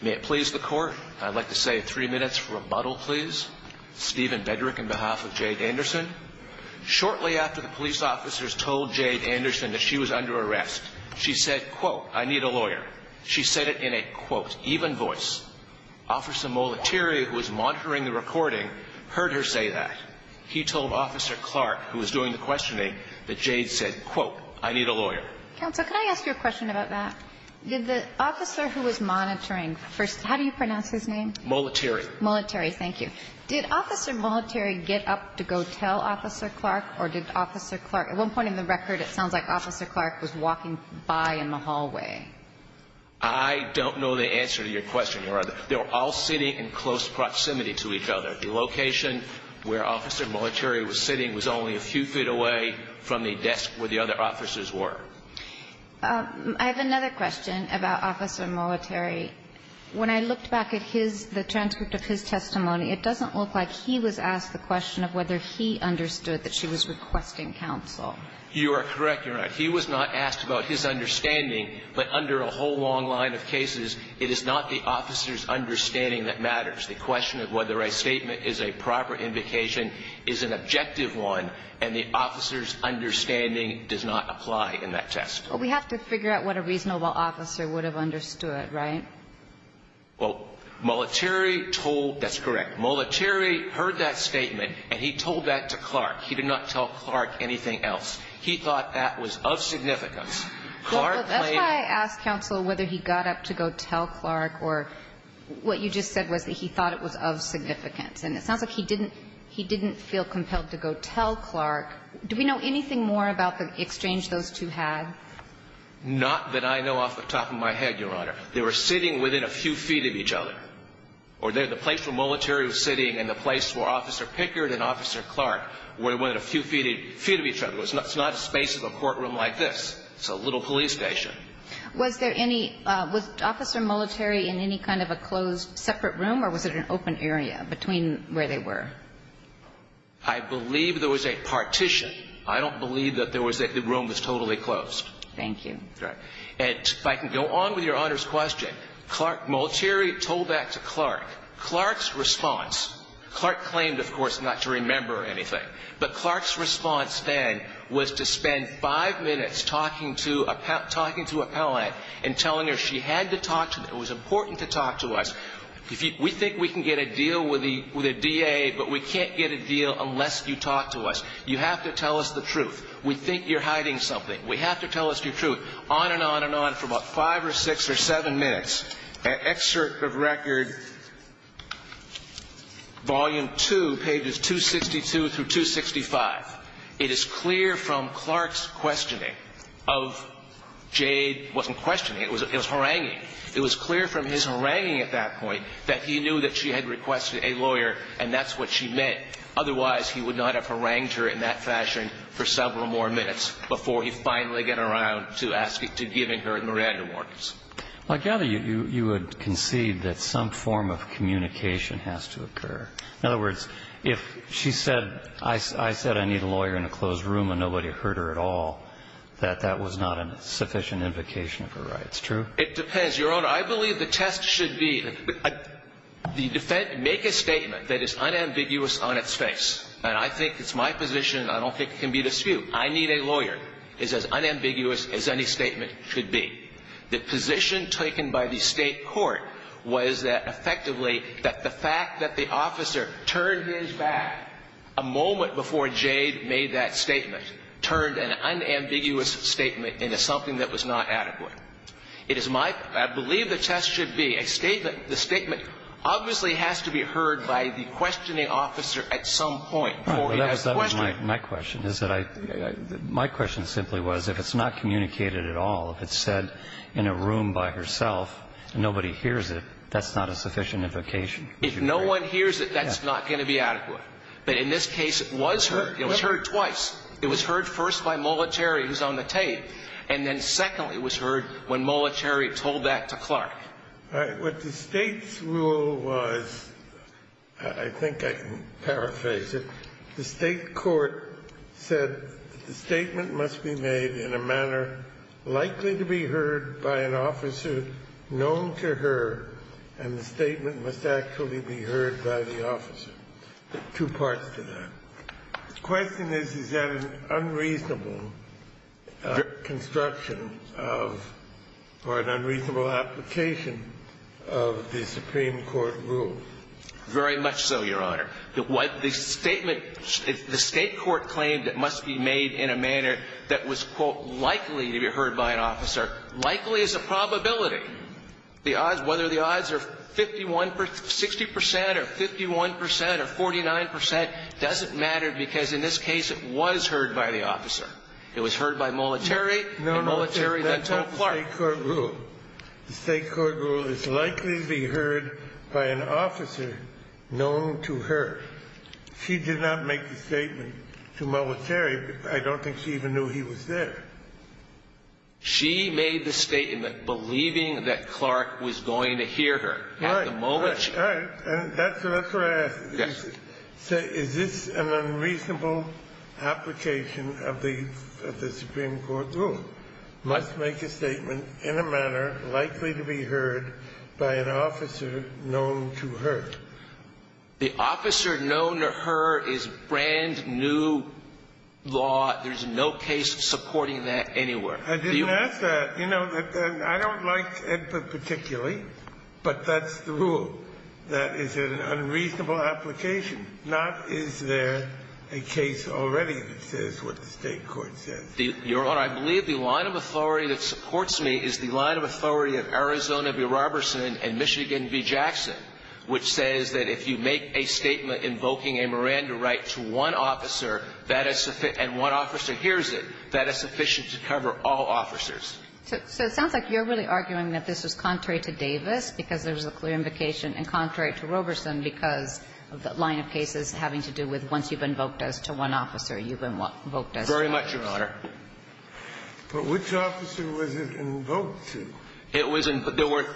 May it please the court, I'd like to say three minutes for rebuttal please. Steven Bedrick on behalf of Jade Anderson. Shortly after the police officers told Jade Anderson that she was under arrest, she said, quote, I need a lawyer. She said it in a, quote, even voice. Officer Molitori, who was monitoring the recording, heard her say that. He told Officer Clark, who was doing the questioning, that Jade said, quote, I need a lawyer. Counsel, can I ask you a question about that? Did the officer who was monitoring first, how do you pronounce his name? Molitori. Molitori, thank you. Did Officer Molitori get up to go tell Officer Clark, or did Officer Clark, at one point in the record it sounds like Officer Clark was walking by in the hallway. I don't know the answer to your question, Your Honor. They were all sitting in close proximity to each other. The location where Officer Molitori was sitting was only a few feet away from the desk where the other officers were. I have another question about Officer Molitori. When I looked back at his, the transcript of his testimony, it doesn't look like he was asked the question of whether he understood that she was requesting counsel. You are correct, Your Honor. He was not asked about his understanding, but under a whole long line of cases, it is not the officer's understanding that matters. The question of whether a statement is a proper invocation is an objective one, and the officer's understanding does not apply in that test. Well, we have to figure out what a reasonable officer would have understood, right? Well, Molitori told, that's correct, Molitori heard that statement, and he told that to Clark. He did not tell Clark anything else. He thought that was of significance. That's why I asked counsel whether he got up to go tell Clark, or what you just said was that he thought it was of significance, and it sounds like he didn't feel compelled to go tell Clark. Do we know anything more about the exchange those two had? Not that I know off the top of my head, Your Honor. They were sitting within a few feet of each other, or the place where Molitori was sitting and the place where Officer Pickard and Officer Clark were within a few feet of each other. It's not a space of a courtroom like this. It's a little police station. Was there any – was Officer Molitori in any kind of a closed, separate room, or was it an open area between where they were? I believe there was a partition. I don't believe that there was – that the room was totally closed. Thank you. And if I can go on with Your Honor's question, Clark – Molitori told that to Clark. Clark's response – Clark claimed, of course, not to remember anything, but Clark's response then was to spend five minutes talking to a – talking to a appellant and telling her she had to talk to – it was important to talk to us. We think we can get a deal with the DA, but we can't get a deal unless you talk to us. You have to tell us the truth. We think you're hiding something. We have to tell us your truth. On and on and on for about five or six or seven minutes, an excerpt of Record Volume 2, pages 262 through 265, it is clear from Clark's questioning of – Jade wasn't questioning. It was – it was haranguing. It was clear from his haranguing at that point that he knew that she had requested a harangued her in that fashion for several more minutes before he finally got around to asking – to giving her Miranda warnings. I gather you would concede that some form of communication has to occur. In other words, if she said – I said I need a lawyer in a closed room and nobody heard her at all, that that was not a sufficient invocation of her rights, true? It depends. Your Honor, I believe the test should be – the – make a statement that is unambiguous on its face. And I think it's my position. I don't think it can be disputed. I need a lawyer. It's as unambiguous as any statement should be. The position taken by the State court was that effectively that the fact that the officer turned his back a moment before Jade made that statement turned an unambiguous statement into something that was not adequate. It is my – I believe the test should be a statement – the statement obviously has to be heard by the questioning officer at some point before he has a question. My question is that I – my question simply was, if it's not communicated at all, if it's said in a room by herself and nobody hears it, that's not a sufficient invocation. If no one hears it, that's not going to be adequate. But in this case, it was heard. It was heard twice. It was heard first by Mollett-Cherry, who's on the tape. And then secondly, it was heard when Mollett-Cherry told that to Clark. All right. What the State's rule was – I think I can paraphrase it – the State court said that the statement must be made in a manner likely to be heard by an officer known to her, and the statement must actually be heard by the officer. Two parts to that. The question is, is that an unreasonable construction of – or an unreasonable application of the Supreme Court rule? Very much so, Your Honor. The statement – the State court claimed it must be made in a manner that was, quote, likely to be heard by an officer. Likely is a probability. The odds – whether the odds are 51 – 60 percent or 51 percent or 49 percent doesn't matter, because in this case, it was heard by the officer. It was heard by Mollett-Cherry, and Mollett-Cherry then told Clark. The State court rule. The State court rule is likely to be heard by an officer known to her. She did not make the statement to Mollett-Cherry. I don't think she even knew he was there. She made the statement believing that Clark was going to hear her at the moment she – All right. All right. And that's what I asked. Yes. You said, is this an unreasonable application of the – of the Supreme Court rule? Must make a statement in a manner likely to be heard by an officer known to her. The officer known to her is brand-new law. There's no case supporting that anywhere. I didn't ask that. You know, I don't like it particularly, but that's the rule. That is an unreasonable application, not is there a case already that says what the State court says. Your Honor, I believe the line of authority that supports me is the line of authority of Arizona v. Roberson and Michigan v. Jackson, which says that if you make a statement invoking a Miranda right to one officer, that is – and one officer hears it, that is sufficient to cover all officers. So it sounds like you're really arguing that this was contrary to Davis because there was a clear invocation and contrary to Roberson because of the line of cases having to do with once you've invoked as to one officer, you've invoked as to the other. But which officer was it invoked to? It was – there were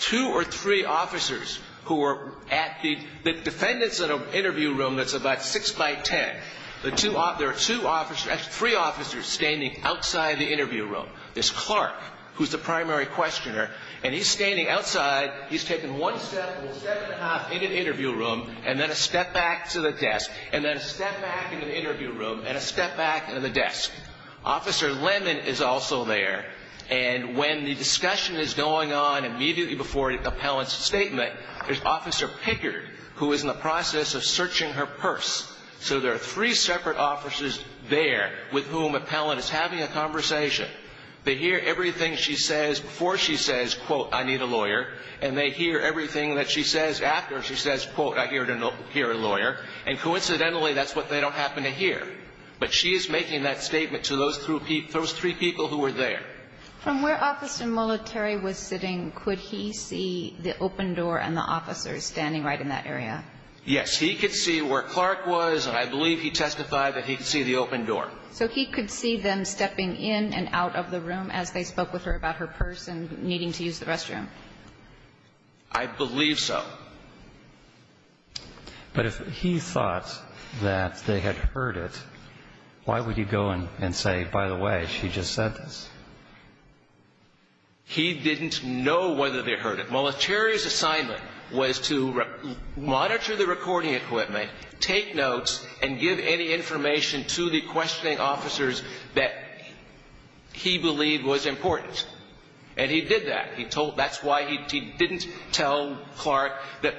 two or three officers who were at the – the defendant's in an interview room that's about 6 by 10. There are two officers – three officers standing outside the interview room. There's Clark, who's the primary questioner, and he's standing outside. He's taken one step and a step and a half in an interview room and then a step back to the desk and then a step back in an interview room and a step back to the desk. Officer Lemon is also there. And when the discussion is going on immediately before an appellant's statement, there's Officer Pickard, who is in the process of searching her purse. So there are three separate officers there with whom an appellant is having a conversation. They hear everything she says before she says, quote, I need a lawyer. And they hear everything that she says after she says, quote, I hear a lawyer. And coincidentally, that's what they don't happen to hear. But she is making that statement to those three people who were there. From where Officer Molitori was sitting, could he see the open door and the officers standing right in that area? Yes. He could see where Clark was, and I believe he testified that he could see the open door. So he could see them stepping in and out of the room as they spoke with her about her purse and needing to use the restroom? I believe so. But if he thought that they had heard it, why would he go and say, by the way, she just said this? He didn't know whether they heard it. Molitori's assignment was to monitor the recording equipment, take notes, and give any information to the questioning officers that he believed was important. And he did that. He told, that's why he didn't tell Clark that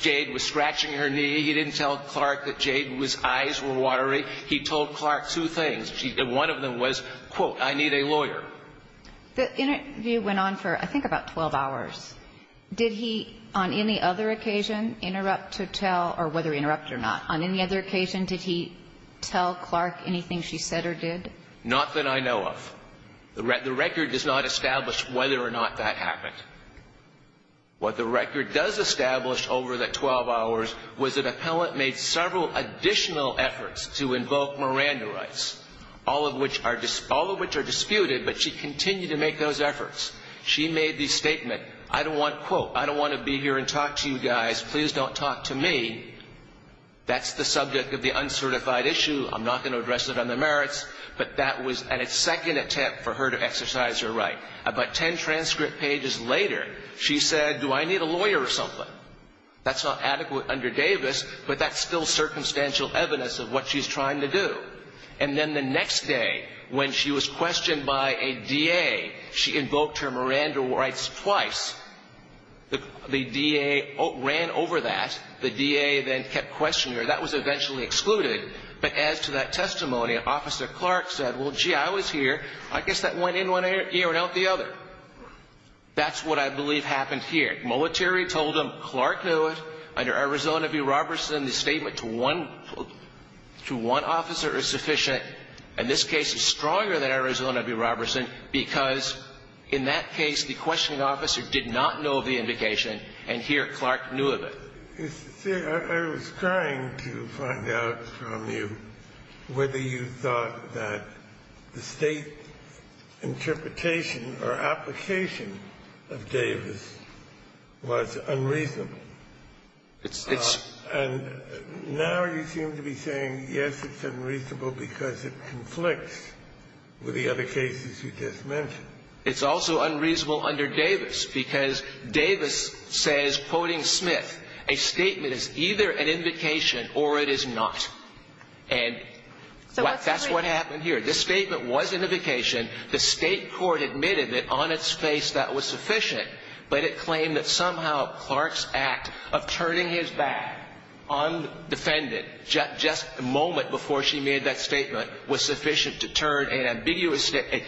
Jade was scratching her knee. He didn't tell Clark that Jade's eyes were watery. He told Clark two things. One of them was, quote, I need a lawyer. The interview went on for, I think, about 12 hours. Did he, on any other occasion, interrupt to tell, or whether interrupt or not, on any other occasion did he tell Clark anything she said or did? Not that I know of. The record does not establish whether or not that happened. What the record does establish over that 12 hours was that an appellant made several additional efforts to invoke Miranda rights, all of which are disputed, but she continued to make those efforts. She made the statement, I don't want, quote, I don't want to be here and talk to you guys. Please don't talk to me. That's the subject of the uncertified issue. I'm not going to address it on the merits. But that was a second attempt for her to exercise her right. About ten transcript pages later, she said, do I need a lawyer or something? That's not adequate under Davis, but that's still circumstantial evidence of what she's trying to do. And then the next day, when she was questioned by a DA, she invoked her Miranda rights twice. The DA ran over that. The DA then kept questioning her. That was eventually excluded. But as to that testimony, Officer Clark said, well, gee, I was here. I guess that went in one ear and out the other. That's what I believe happened here. Molitori told them Clark knew it. Under Arizona v. Robertson, the statement to one officer is sufficient. And this case is stronger than Arizona v. Robertson because in that case, the questioning officer did not know the indication, and here Clark knew of it. I was trying to find out from you whether you thought that the State interpretation or application of Davis was unreasonable. And now you seem to be saying, yes, it's unreasonable because it conflicts with the other cases you just mentioned. It's also unreasonable under Davis because Davis says, quoting Smith, a statement is either an invocation or it is not. And that's what happened here. This statement was an invocation. The State court admitted that on its face that was sufficient, but it claimed that somehow Clark's act of turning his back on the defendant just a moment before she made that statement was sufficient to turn an ambiguous statement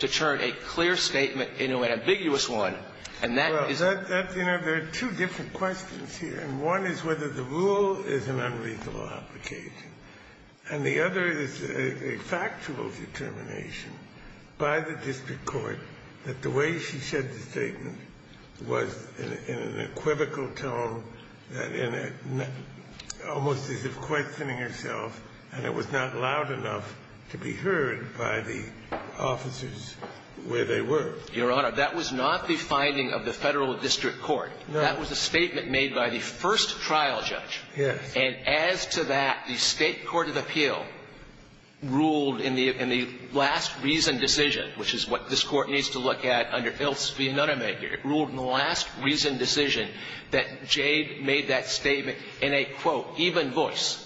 to turn a clear statement into an ambiguous one. And that is the case. Well, you know, there are two different questions here. And one is whether the rule is an unreasonable application, and the other is a factual determination by the district court that the way she said the statement was in an equivocal tone, almost as if questioning herself, and it was not loud enough to be heard by the officers where they were. Your Honor, that was not the finding of the Federal district court. No. That was a statement made by the first trial judge. Yes. And as to that, the State court of appeal ruled in the last reason decision, which is what this Court needs to look at under Ilse V. Nunnemeyer, it ruled in the last reason decision that Jade made that statement in a, quote, even voice.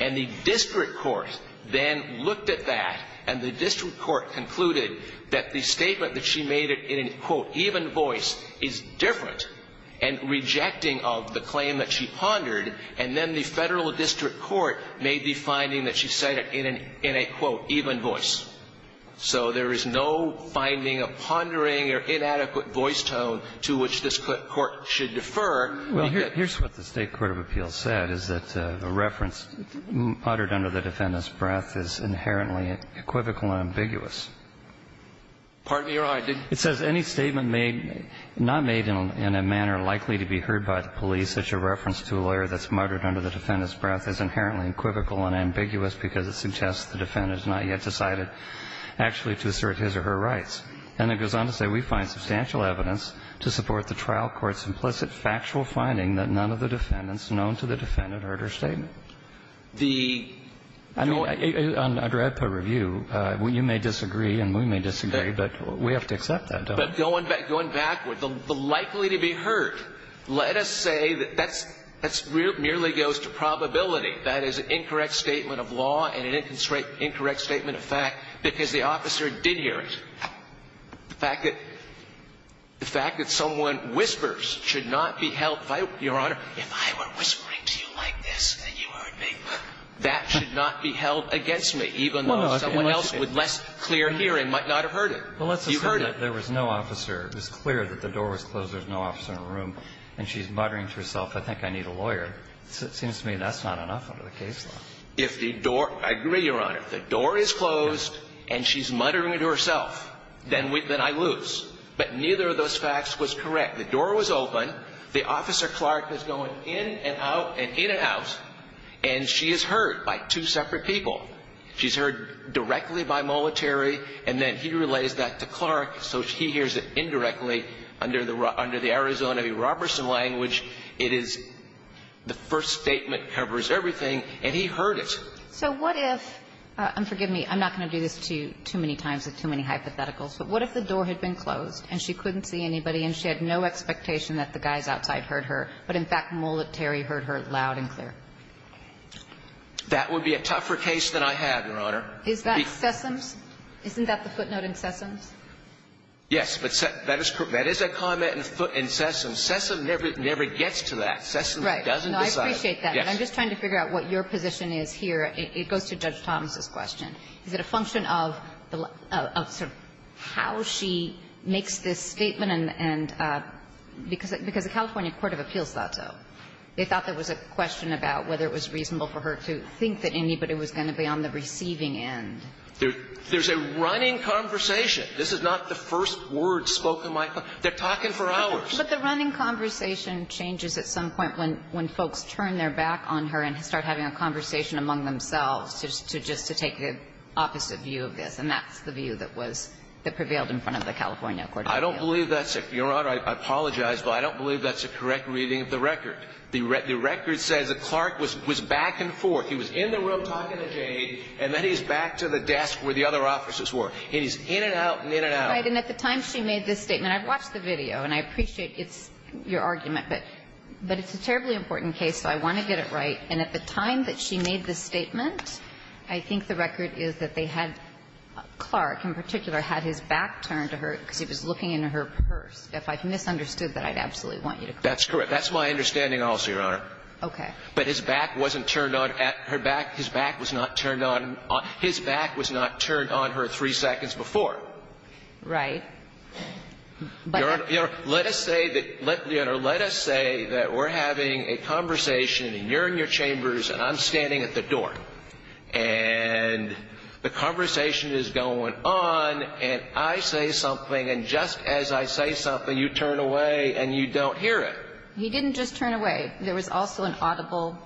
And the district court then looked at that, and the district court concluded that the statement that she made it in a, quote, even voice is different and rejecting of the claim that she pondered, and then the Federal district court made the finding that she said it in a, quote, even voice. So there is no finding of pondering or inadequate voice tone to which this Court should defer. Well, here's what the State court of appeal said, is that the reference muttered under the defendant's breath is inherently equivocal and ambiguous. Pardon me, Your Honor. It says any statement made, not made in a manner likely to be heard by the police, such a reference to a lawyer that's muttered under the defendant's breath is inherently equivocal and ambiguous because it suggests the defendant has not yet decided actually to assert his or her rights. And it goes on to say we find substantial evidence to support the trial court's implicit factual finding that none of the defendants known to the defendant heard her statement. The joint ---- I mean, under APA review, you may disagree and we may disagree, but we have to accept that, don't we? But going back, going backward, the likely to be heard, let us say that that's merely goes to probability. That is an incorrect statement of law and an incorrect statement of fact because the officer did hear it. The fact that someone whispers should not be held by your Honor, if I were whispering to you like this and you heard me, that should not be held against me, even though someone else with less clear hearing might not have heard it. You heard it. Well, let's assume that there was no officer. It was clear that the door was closed, there was no officer in the room, and she's muttering to herself, I think I need a lawyer. It seems to me that's not enough under the case law. If the door ---- I agree, Your Honor. If the door is closed and she's muttering to herself, then we ---- then I lose. But neither of those facts was correct. The door was open. The officer, Clark, is going in and out and in and out, and she is heard by two separate people. She's heard directly by Molitary, and then he relays that to Clark, so he hears it indirectly under the Arizona v. Robertson language. It is the first statement covers everything, and he heard it. So what if ---- and forgive me, I'm not going to do this to you too many times with too many hypotheticals. But what if the door had been closed and she couldn't see anybody and she had no expectation that the guys outside heard her, but in fact Molitary heard her loud and clear? That would be a tougher case than I have, Your Honor. Is that Sessoms? Isn't that the footnote in Sessoms? Yes. But that is a comment in Sessoms. Sessoms never gets to that. Sessoms doesn't decide. Right. No, I appreciate that. Yes. But I'm just trying to figure out what your position is here. It goes to Judge Thomas's question. Is it a function of the ---- of sort of how she makes this statement and ---- because the California court of appeals thought so. They thought there was a question about whether it was reasonable for her to think that anybody was going to be on the receiving end. There's a running conversation. This is not the first word spoken by ---- they're talking for hours. But the running conversation changes at some point when folks turn their back on her and start having a conversation among themselves just to take the opposite view of this, and that's the view that was ---- that prevailed in front of the California court of appeals. I don't believe that's it, Your Honor. I apologize, but I don't believe that's a correct reading of the record. The record says that Clark was back and forth. He was in the room talking to Jade, and then he's back to the desk where the other officers were. And he's in and out and in and out. Right. And at the time she made this statement, I've watched the video and I appreciate it's your argument, but it's a terribly important case, so I want to get it right. And at the time that she made this statement, I think the record is that they had Clark in particular had his back turned to her because he was looking into her purse. If I've misunderstood that, I'd absolutely want you to correct me. That's correct. That's my understanding also, Your Honor. Okay. But his back wasn't turned on at her back. His back was not turned on. And I think we can agree that she would have turned on her three seconds before. Right. Your Honor, let us say that we're having a conversation, and you're in your chambers and I'm standing at the door, and the conversation is going on, and I say something, and just as I say something, you turn away and you don't hear it. He didn't just turn away. There was also an audible,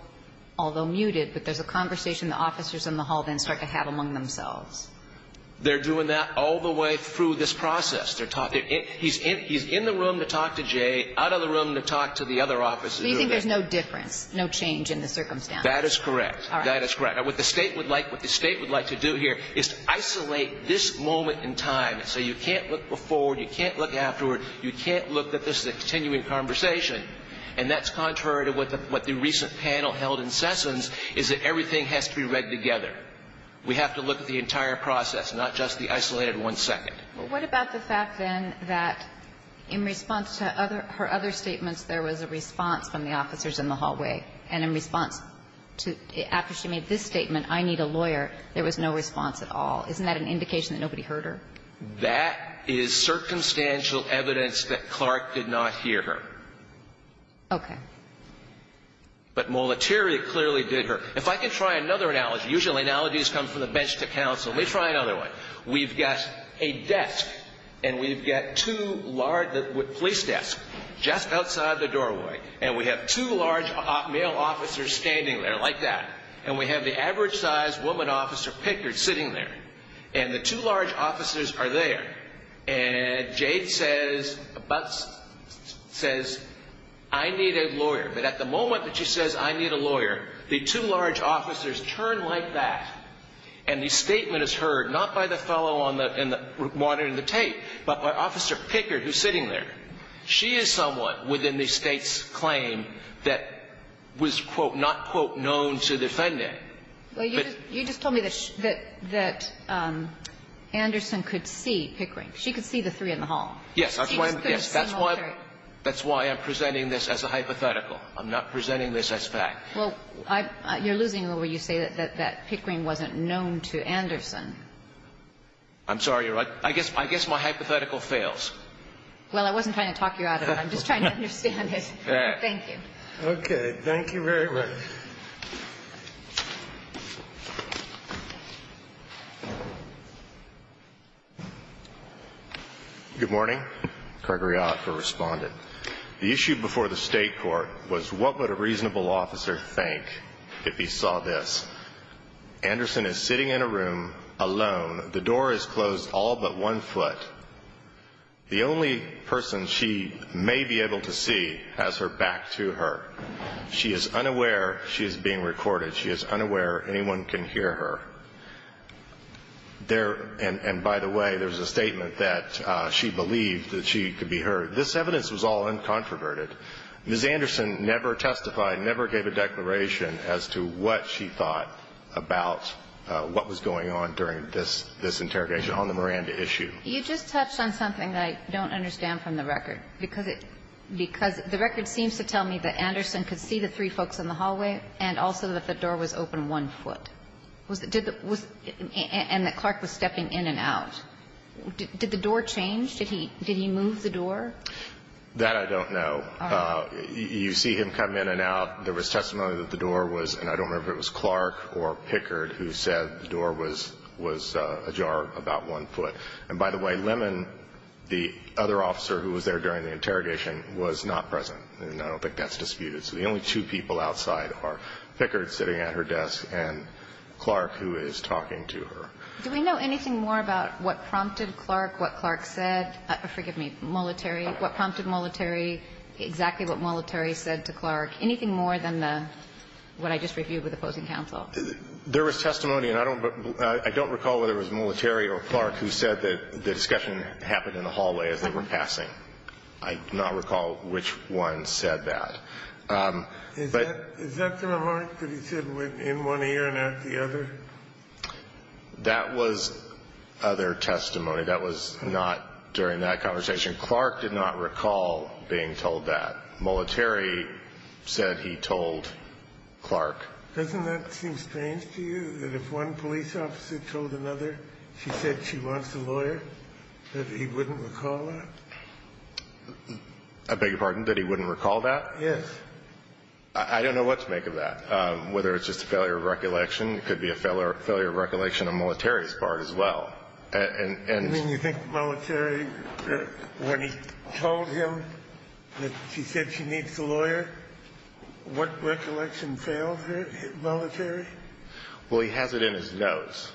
although muted, but there's a conversation the officers in the hall then start to have among themselves. They're doing that all the way through this process. They're talking. He's in the room to talk to Jay, out of the room to talk to the other officers. So you think there's no difference, no change in the circumstance? That is correct. All right. That is correct. Now, what the State would like to do here is to isolate this moment in time, so you can't look before, you can't look afterward, you can't look that this is a continuing conversation. And that's contrary to what the recent panel held in Sessoms, is that everything has to be read together. We have to look at the entire process, not just the isolated one second. Well, what about the fact, then, that in response to her other statements, there was a response from the officers in the hallway? And in response to, after she made this statement, I need a lawyer, there was no response at all. Isn't that an indication that nobody heard her? That is circumstantial evidence that Clark did not hear her. Okay. But Molitorio clearly did hear her. If I can try another analogy, usually analogies come from the bench to counsel. Let me try another one. We've got a desk, and we've got two large police desks just outside the doorway, and we have two large male officers standing there like that, and we have the average-sized woman officer, Pickard, sitting there. And the two large officers are there. And Jade says, I need a lawyer. But at the moment that she says, I need a lawyer, the two large officers turn like that, and the statement is heard not by the fellow on the monitor in the tape, but by Officer Pickard, who's sitting there. She is someone within the State's claim that was, quote, not, quote, known to defend it. Well, you just told me that Anderson could see Pickard. She could see the three in the hall. Yes. She could see Molitorio. That's why I'm presenting this as a hypothetical. I'm not presenting this as fact. Well, you're losing it when you say that Pickard wasn't known to Anderson. I'm sorry, Your Honor. I guess my hypothetical fails. Well, I wasn't trying to talk you out of it. I'm just trying to understand it. Thank you. Okay. Thank you very much. Good morning. Craig Riott for Respondent. The issue before the State court was what would a reasonable officer think if he saw this. Anderson is sitting in a room alone. The door is closed all but one foot. The only person she may be able to see has her back to her. She is unaware she is going to see Pickard. She is being recorded. She is unaware anyone can hear her. And by the way, there's a statement that she believed that she could be heard. This evidence was all uncontroverted. Ms. Anderson never testified, never gave a declaration as to what she thought about what was going on during this interrogation on the Miranda issue. You just touched on something that I don't understand from the record. Because the record seems to tell me that Anderson could see the three folks in the hallway and also that the door was open one foot. And that Clark was stepping in and out. Did the door change? Did he move the door? That I don't know. You see him come in and out. There was testimony that the door was, and I don't remember if it was Clark or Pickard who said the door was ajar about one foot. And by the way, Lemon, the other officer who was there during the interrogation, was not present. And I don't think that's disputed. So the only two people outside are Pickard sitting at her desk and Clark, who is talking to her. Do we know anything more about what prompted Clark, what Clark said? Forgive me, Molitary. What prompted Molitary? Exactly what Molitary said to Clark? Anything more than what I just reviewed with opposing counsel? There was testimony, and I don't recall whether it was Molitary or Clark who said that the discussion happened in the hallway as they were passing. I do not recall which one said that. Is that the remark that he said went in one ear and out the other? That was other testimony. That was not during that conversation. Clark did not recall being told that. Molitary said he told Clark. Doesn't that seem strange to you, that if one police officer told another she said she wants a lawyer, that he wouldn't recall that? I beg your pardon? That he wouldn't recall that? Yes. I don't know what to make of that, whether it's just a failure of recollection. It could be a failure of recollection on Molitary's part as well. You mean you think Molitary, when he told him that she said she needs a lawyer, what recollection failed Molitary? Well, he has it in his notes.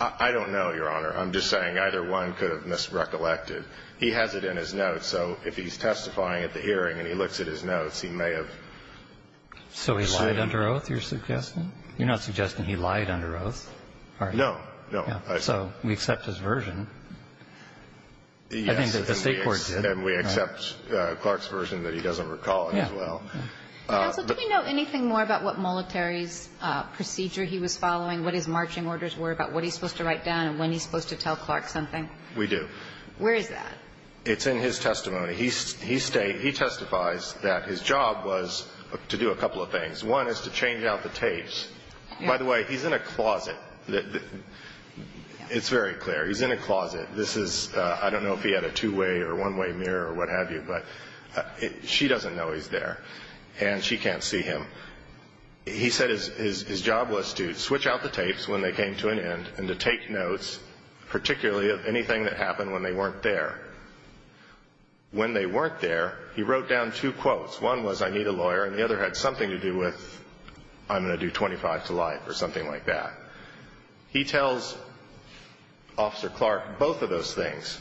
I don't know, Your Honor. I'm just saying either one could have misrecollected. He has it in his notes, so if he's testifying at the hearing and he looks at his notes, he may have. So he lied under oath, you're suggesting? You're not suggesting he lied under oath? No, no. So we accept his version. Yes. And we accept Clark's version that he doesn't recall as well. Counsel, do we know anything more about what Molitary's procedure he was following, what his marching orders were, about what he's supposed to write down and when he's supposed to tell Clark something? We do. Where is that? It's in his testimony. He testifies that his job was to do a couple of things. One is to change out the tapes. By the way, he's in a closet. It's very clear. He's in a closet. This is, I don't know if he had a two-way or one-way mirror or what have you, but she doesn't know he's there, and she can't see him. He said his job was to switch out the tapes when they came to an end and to take notes, particularly of anything that happened when they weren't there. When they weren't there, he wrote down two quotes. One was, I need a lawyer, and the other had something to do with, I'm going to do 25 to life or something like that. He tells Officer Clark both of those things.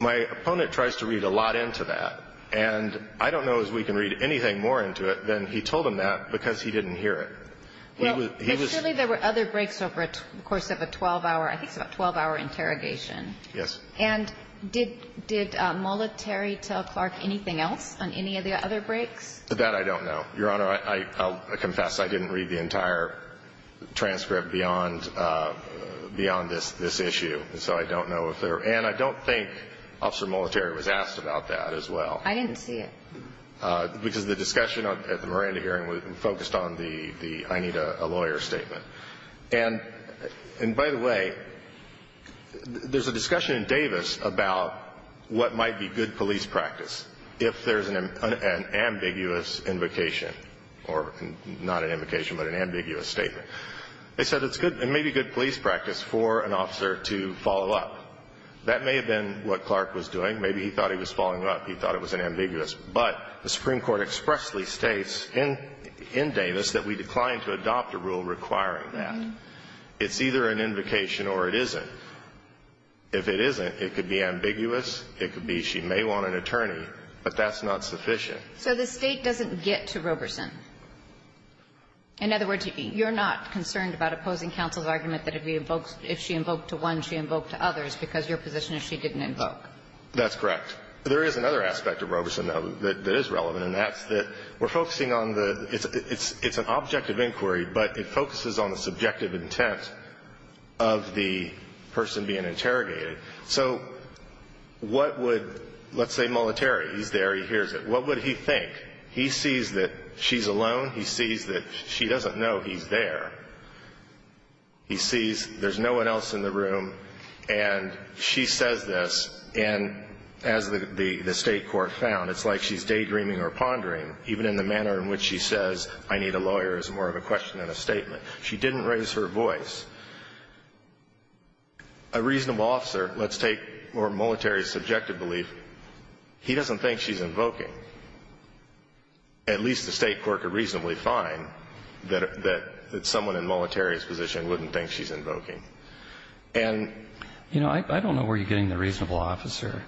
My opponent tries to read a lot into that, and I don't know if we can read anything more into it than he told him that because he didn't hear it. He was ---- But surely there were other breaks over the course of a 12-hour, I think it's about a 12-hour interrogation. Yes. And did Molitary tell Clark anything else on any of the other breaks? That I don't know. Your Honor, I confess I didn't read the entire transcript beyond this issue, so I don't know if there ---- And I don't think Officer Molitary was asked about that as well. I didn't see it. Because the discussion at the Miranda hearing focused on the I need a lawyer statement. And by the way, there's a discussion in Davis about what might be good police practice if there's an ambiguous invocation, or not an invocation but an ambiguous statement. They said it's good, it may be good police practice for an officer to follow up. That may have been what Clark was doing. Maybe he thought he was following up. He thought it was an ambiguous. But the Supreme Court expressly states in Davis that we decline to adopt a rule requiring that. It's either an invocation or it isn't. If it isn't, it could be ambiguous. It could be she may want an attorney. But that's not sufficient. So the State doesn't get to Roberson. In other words, you're not concerned about opposing counsel's argument that if she invoked to one, she invoked to others, because your position is she didn't invoke. That's correct. There is another aspect of Roberson, though, that is relevant, and that's that we're focusing on the it's an objective inquiry, but it focuses on the subjective intent of the person being interrogated. So what would, let's say Molitori, he's there, he hears it. What would he think? He sees that she's alone. He sees that she doesn't know he's there. He sees there's no one else in the room. And she says this. And as the State court found, it's like she's daydreaming or pondering, even in the manner in which she says, I need a lawyer, is more of a question than a statement. She didn't raise her voice. A reasonable officer, let's take, or Molitori's subjective belief, he doesn't think she's invoking. At least the State court could reasonably find that someone in Molitori's position wouldn't think she's invoking. And, you know, I don't know where you're getting the reasonable officer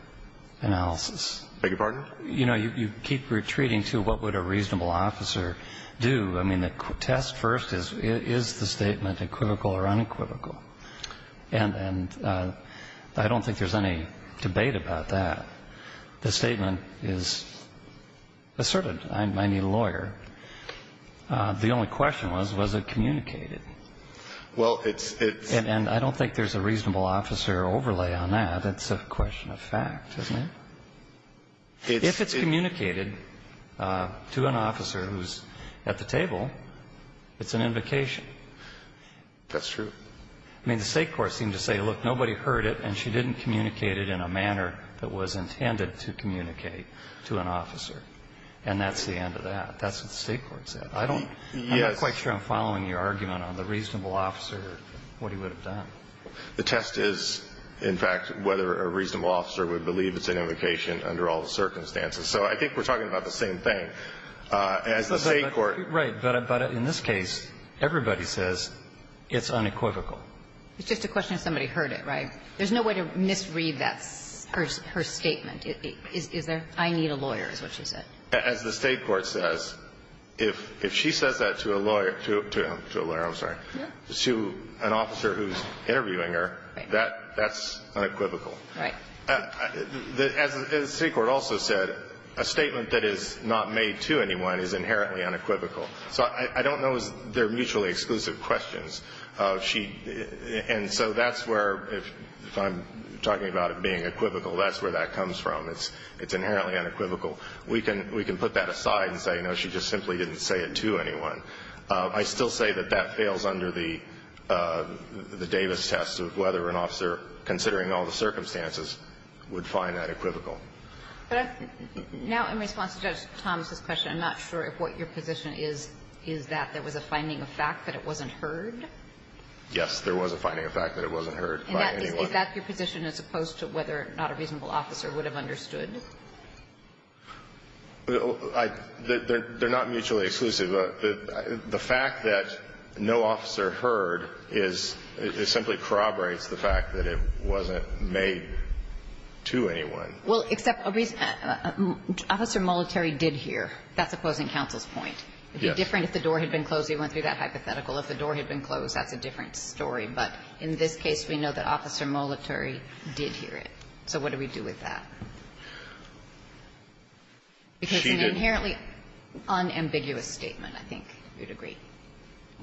analysis. I beg your pardon? You know, you keep retreating to what would a reasonable officer do. I mean, the test first is, is the statement equivocal or unequivocal? And I don't think there's any debate about that. The statement is asserted. I need a lawyer. The only question was, was it communicated? And I don't think there's a reasonable officer overlay on that. It's a question of fact, isn't it? If it's communicated to an officer who's at the table, it's an invocation. That's true. I mean, the State court seemed to say, look, nobody heard it, and she didn't communicate it in a manner that was intended to communicate to an officer. And that's the end of that. That's what the State court said. I don't, I'm not quite sure I'm following your argument on the reasonable officer, what he would have done. The test is, in fact, whether a reasonable officer would believe it's an invocation under all the circumstances. So I think we're talking about the same thing. As the State court. Right. But in this case, everybody says it's unequivocal. It's just a question of somebody heard it, right? There's no way to misread that, her statement. Is there? I need a lawyer is what she said. As the State court says, if she says that to a lawyer, to a lawyer, I'm sorry, to an officer who's interviewing her, that's unequivocal. Right. As the State court also said, a statement that is not made to anyone is inherently unequivocal. So I don't know if they're mutually exclusive questions. She, and so that's where, if I'm talking about it being equivocal, that's where that comes from. It's inherently unequivocal. We can put that aside and say, no, she just simply didn't say it to anyone. I still say that that fails under the Davis test of whether an officer, considering all the circumstances, would find that equivocal. Now, in response to Judge Thomas's question, I'm not sure if what your position is, is that there was a finding of fact that it wasn't heard? Yes, there was a finding of fact that it wasn't heard by anyone. Is that your position as opposed to whether not a reasonable officer would have understood? They're not mutually exclusive. The fact that no officer heard is, it simply corroborates the fact that it wasn't made to anyone. Well, except a reason, Officer Molitari did hear. That's opposing counsel's point. Yes. It would be different if the door had been closed. We went through that hypothetical. If the door had been closed, that's a different story. But in this case, we know that Officer Molitari did hear it. So what do we do with that? Because it's an inherently unambiguous statement, I think you'd agree.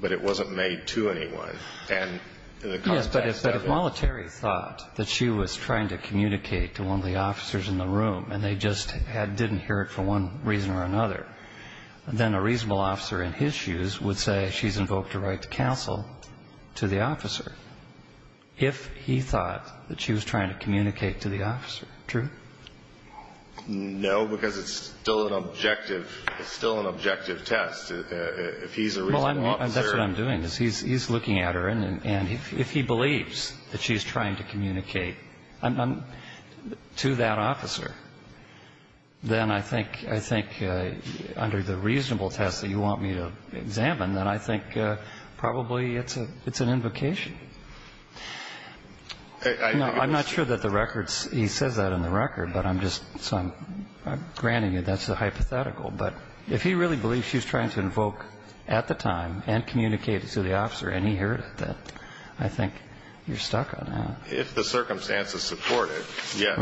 But it wasn't made to anyone. And in the context of it. Yes, but if Molitari thought that she was trying to communicate to one of the officers in the room and they just didn't hear it for one reason or another, then a reasonable officer in his shoes would say she's invoked a right to counsel to the officer if he thought that she was trying to communicate to the officer. True? No, because it's still an objective. It's still an objective test. If he's a reasonable officer. Well, that's what I'm doing. He's looking at her. And if he believes that she's trying to communicate to that officer, then I think under the reasonable test that you want me to examine, then I think probably it's an invocation. No, I'm not sure that the records, he says that in the record, but I'm just, so I'm granting you that's a hypothetical. But if he really believes she's trying to invoke at the time and communicate to the officer and he heard it, then I think you're stuck on that. If the circumstances support it, yes.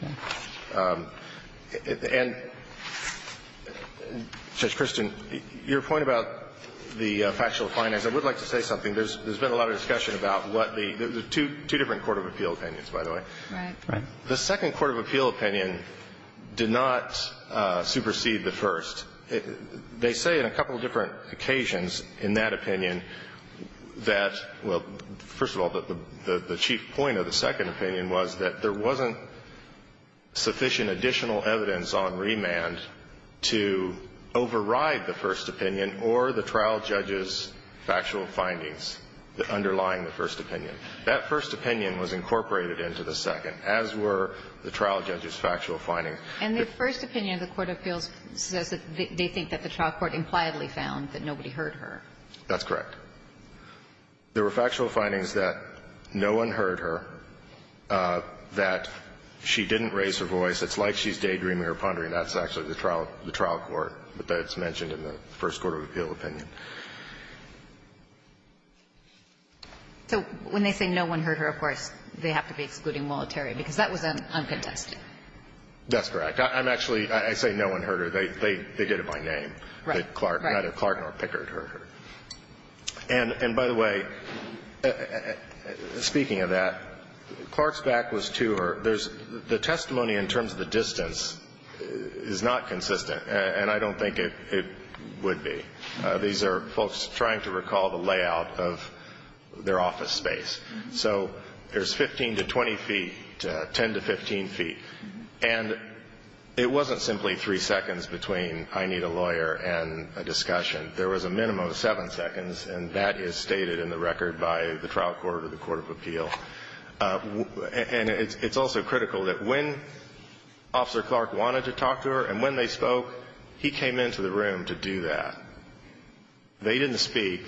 Right. And, Judge Christin, your point about the factual findings, I would like to say something. There's been a lot of discussion about what the two different court of appeal opinions, by the way. Right. The second court of appeal opinion did not supersede the first. They say in a couple of different occasions in that opinion that, well, first of all, the chief point of the second opinion was that there wasn't sufficient additional evidence on remand to override the first opinion or the trial judge's factual findings underlying the first opinion. That first opinion was incorporated into the second, as were the trial judge's factual findings. And the first opinion of the court of appeals says that they think that the trial court impliedly found that nobody heard her. That's correct. There were factual findings that no one heard her, that she didn't raise her voice. It's like she's daydreaming or pondering. That's actually the trial court, but that's mentioned in the first court of appeal opinion. So when they say no one heard her, of course, they have to be excluding monetary, because that was uncontested. That's correct. I'm actually – I say no one heard her. They did it by name. Right. Neither Clark nor Pickard heard her. And by the way, speaking of that, Clark's back was to her. There's – the testimony in terms of the distance is not consistent, and I don't think it would be. These are folks trying to recall the layout of their office space. So there's 15 to 20 feet, 10 to 15 feet. And it wasn't simply three seconds between I need a lawyer and a discussion. There was a minimum of seven seconds, and that is stated in the record by the trial court or the court of appeal. And it's also critical that when Officer Clark wanted to talk to her and when they didn't speak,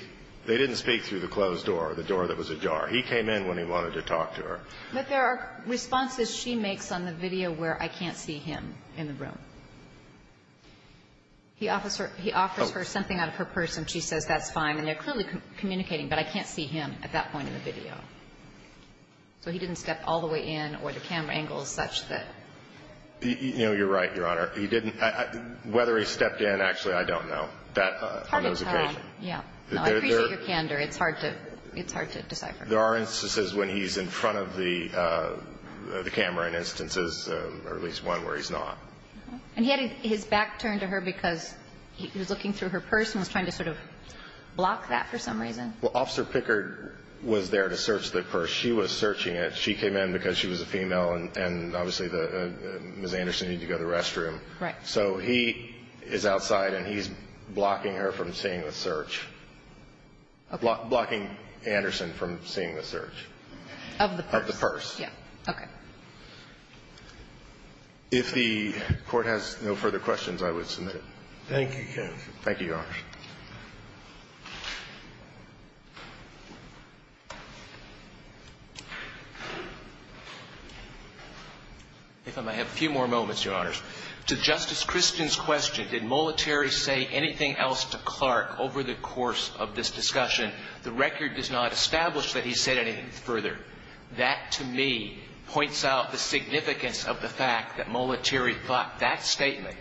they didn't speak through the closed door, the door that was ajar. He came in when he wanted to talk to her. But there are responses she makes on the video where I can't see him in the room. He offers her something out of her person. She says that's fine, and they're clearly communicating, but I can't see him at that point in the video. So he didn't step all the way in or the camera angle is such that – No, you're right, Your Honor. He didn't – whether he stepped in, actually, I don't know. It's hard to tell. Yeah. I appreciate your candor. It's hard to decipher. There are instances when he's in front of the camera in instances, or at least one, where he's not. And he had his back turned to her because he was looking through her purse and was trying to sort of block that for some reason. Well, Officer Pickard was there to search the purse. She was searching it. She came in because she was a female, and obviously Ms. Anderson needed to go to the restroom. Right. So he is outside, and he's blocking her from seeing the search. Blocking Anderson from seeing the search. Of the purse. Of the purse. Yeah. Okay. If the Court has no further questions, I would submit it. Thank you, counsel. Thank you, Your Honor. If I may have a few more moments, Your Honors. To Justice Christian's question, did Molitary say anything else to Clark over the course of this discussion? The record does not establish that he said anything further. That, to me, points out the significance of the fact that Molitary thought that statement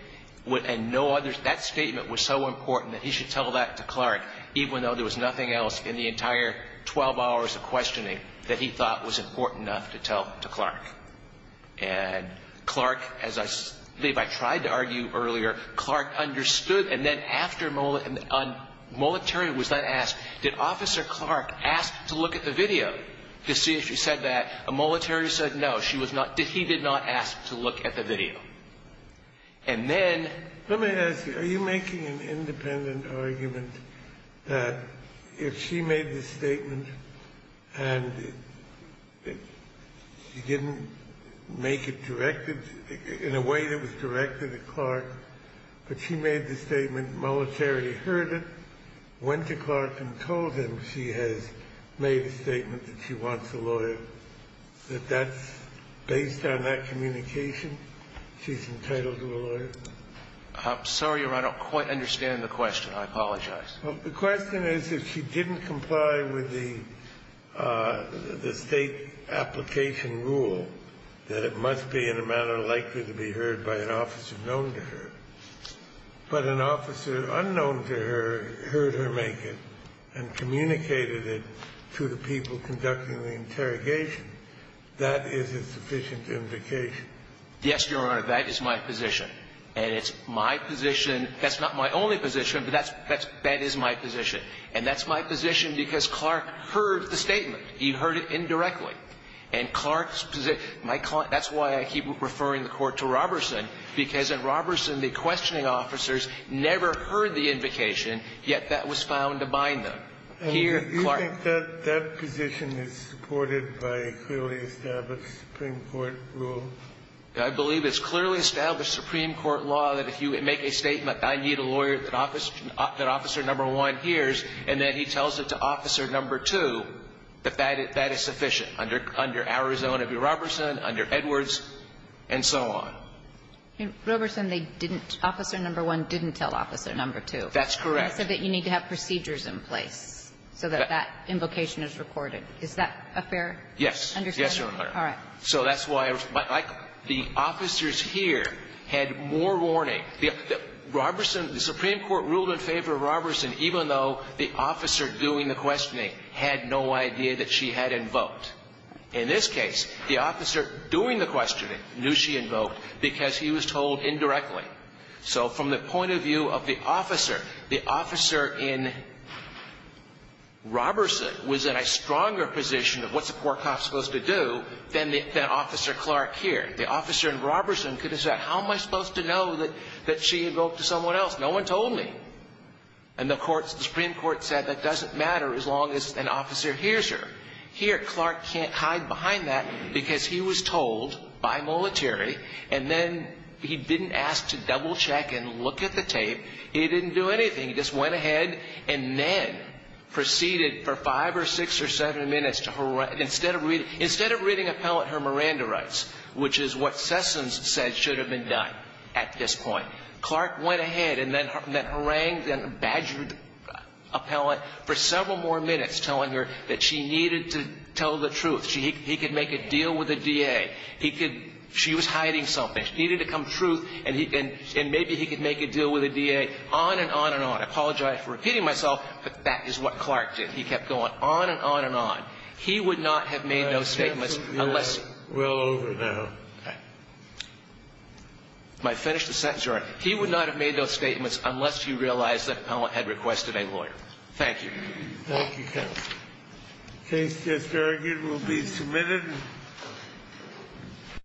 would, and no others, that statement was so important that he should tell that to Clark, even though there was nothing else in the entire 12 hours of questioning that he thought was important enough to tell to Clark. And Clark, as I believe I tried to argue earlier, Clark understood. And then after Molitary was then asked, did Officer Clark ask to look at the video to see if she said that, Molitary said no. She was not. He did not ask to look at the video. And then Let me ask you, are you making an independent argument that if she made the statement and she didn't make it directed in a way that was directed at Clark, but she made the statement, Molitary heard it, went to Clark and told him she has made a statement that she wants a lawyer, that that's based on that communication, she's entitled to a lawyer? I'm sorry, Your Honor, I don't quite understand the question. I apologize. Well, the question is if she didn't comply with the State application rule, that it must be in a manner likely to be heard by an officer known to her, but an officer unknown to her heard her make it and communicated it to the people conducting the interrogation, that is a sufficient indication. Yes, Your Honor. That is my position. And it's my position. That's not my only position, but that's my position. And that's my position because Clark heard the statement. He heard it indirectly. And Clark's position, my client, that's why I keep referring the Court to Robertson, because at Robertson, the questioning officers never heard the invocation, yet that was found to bind them. Here, Clark ---- And do you think that that position is supported by a clearly established Supreme Court rule? I believe it's clearly established Supreme Court law that if you make a statement, I need a lawyer that officer number one hears, and then he tells it to officer number two, that that is sufficient under Arizona v. Robertson, under Edwards, and so on. Robertson, they didn't ---- officer number one didn't tell officer number two. That's correct. So that you need to have procedures in place so that that invocation is recorded. Is that a fair understanding? Yes. Yes, Your Honor. All right. So that's why, like, the officers here had more warning. The Robertson ---- the Supreme Court ruled in favor of Robertson even though the officer doing the questioning had no idea that she had invoked. In this case, the officer doing the questioning knew she invoked because he was told indirectly. So from the point of view of the officer, the officer in Robertson was in a stronger position of what's a poor cop supposed to do than the ---- than Officer Clark here. The officer in Robertson could have said, how am I supposed to know that she invoked to someone else? No one told me. And the courts ---- the Supreme Court said that doesn't matter as long as an officer hears her. Here, Clark can't hide behind that because he was told by military and then he didn't ask to double check and look at the tape. He didn't do anything. He just went ahead and then proceeded for five or six or seven minutes to ---- instead of reading ---- instead of reading appellate her Miranda rights, which is what Sessoms said should have been done at this point. Clark went ahead and then harangued and badgered appellate for several more minutes telling her that she needed to tell the truth. He could make a deal with the DA. He could ---- she was hiding something. She needed to come true and he ---- and maybe he could make a deal with the DA. On and on and on. I apologize for repeating myself, but that is what Clark did. He kept going on and on and on. He would not have made those statements unless ---- We're all over now. Okay. Might finish the sentence. He would not have made those statements unless he realized that appellate had requested a lawyer. Thank you. Thank you, counsel. The case is adjourned. It will be submitted.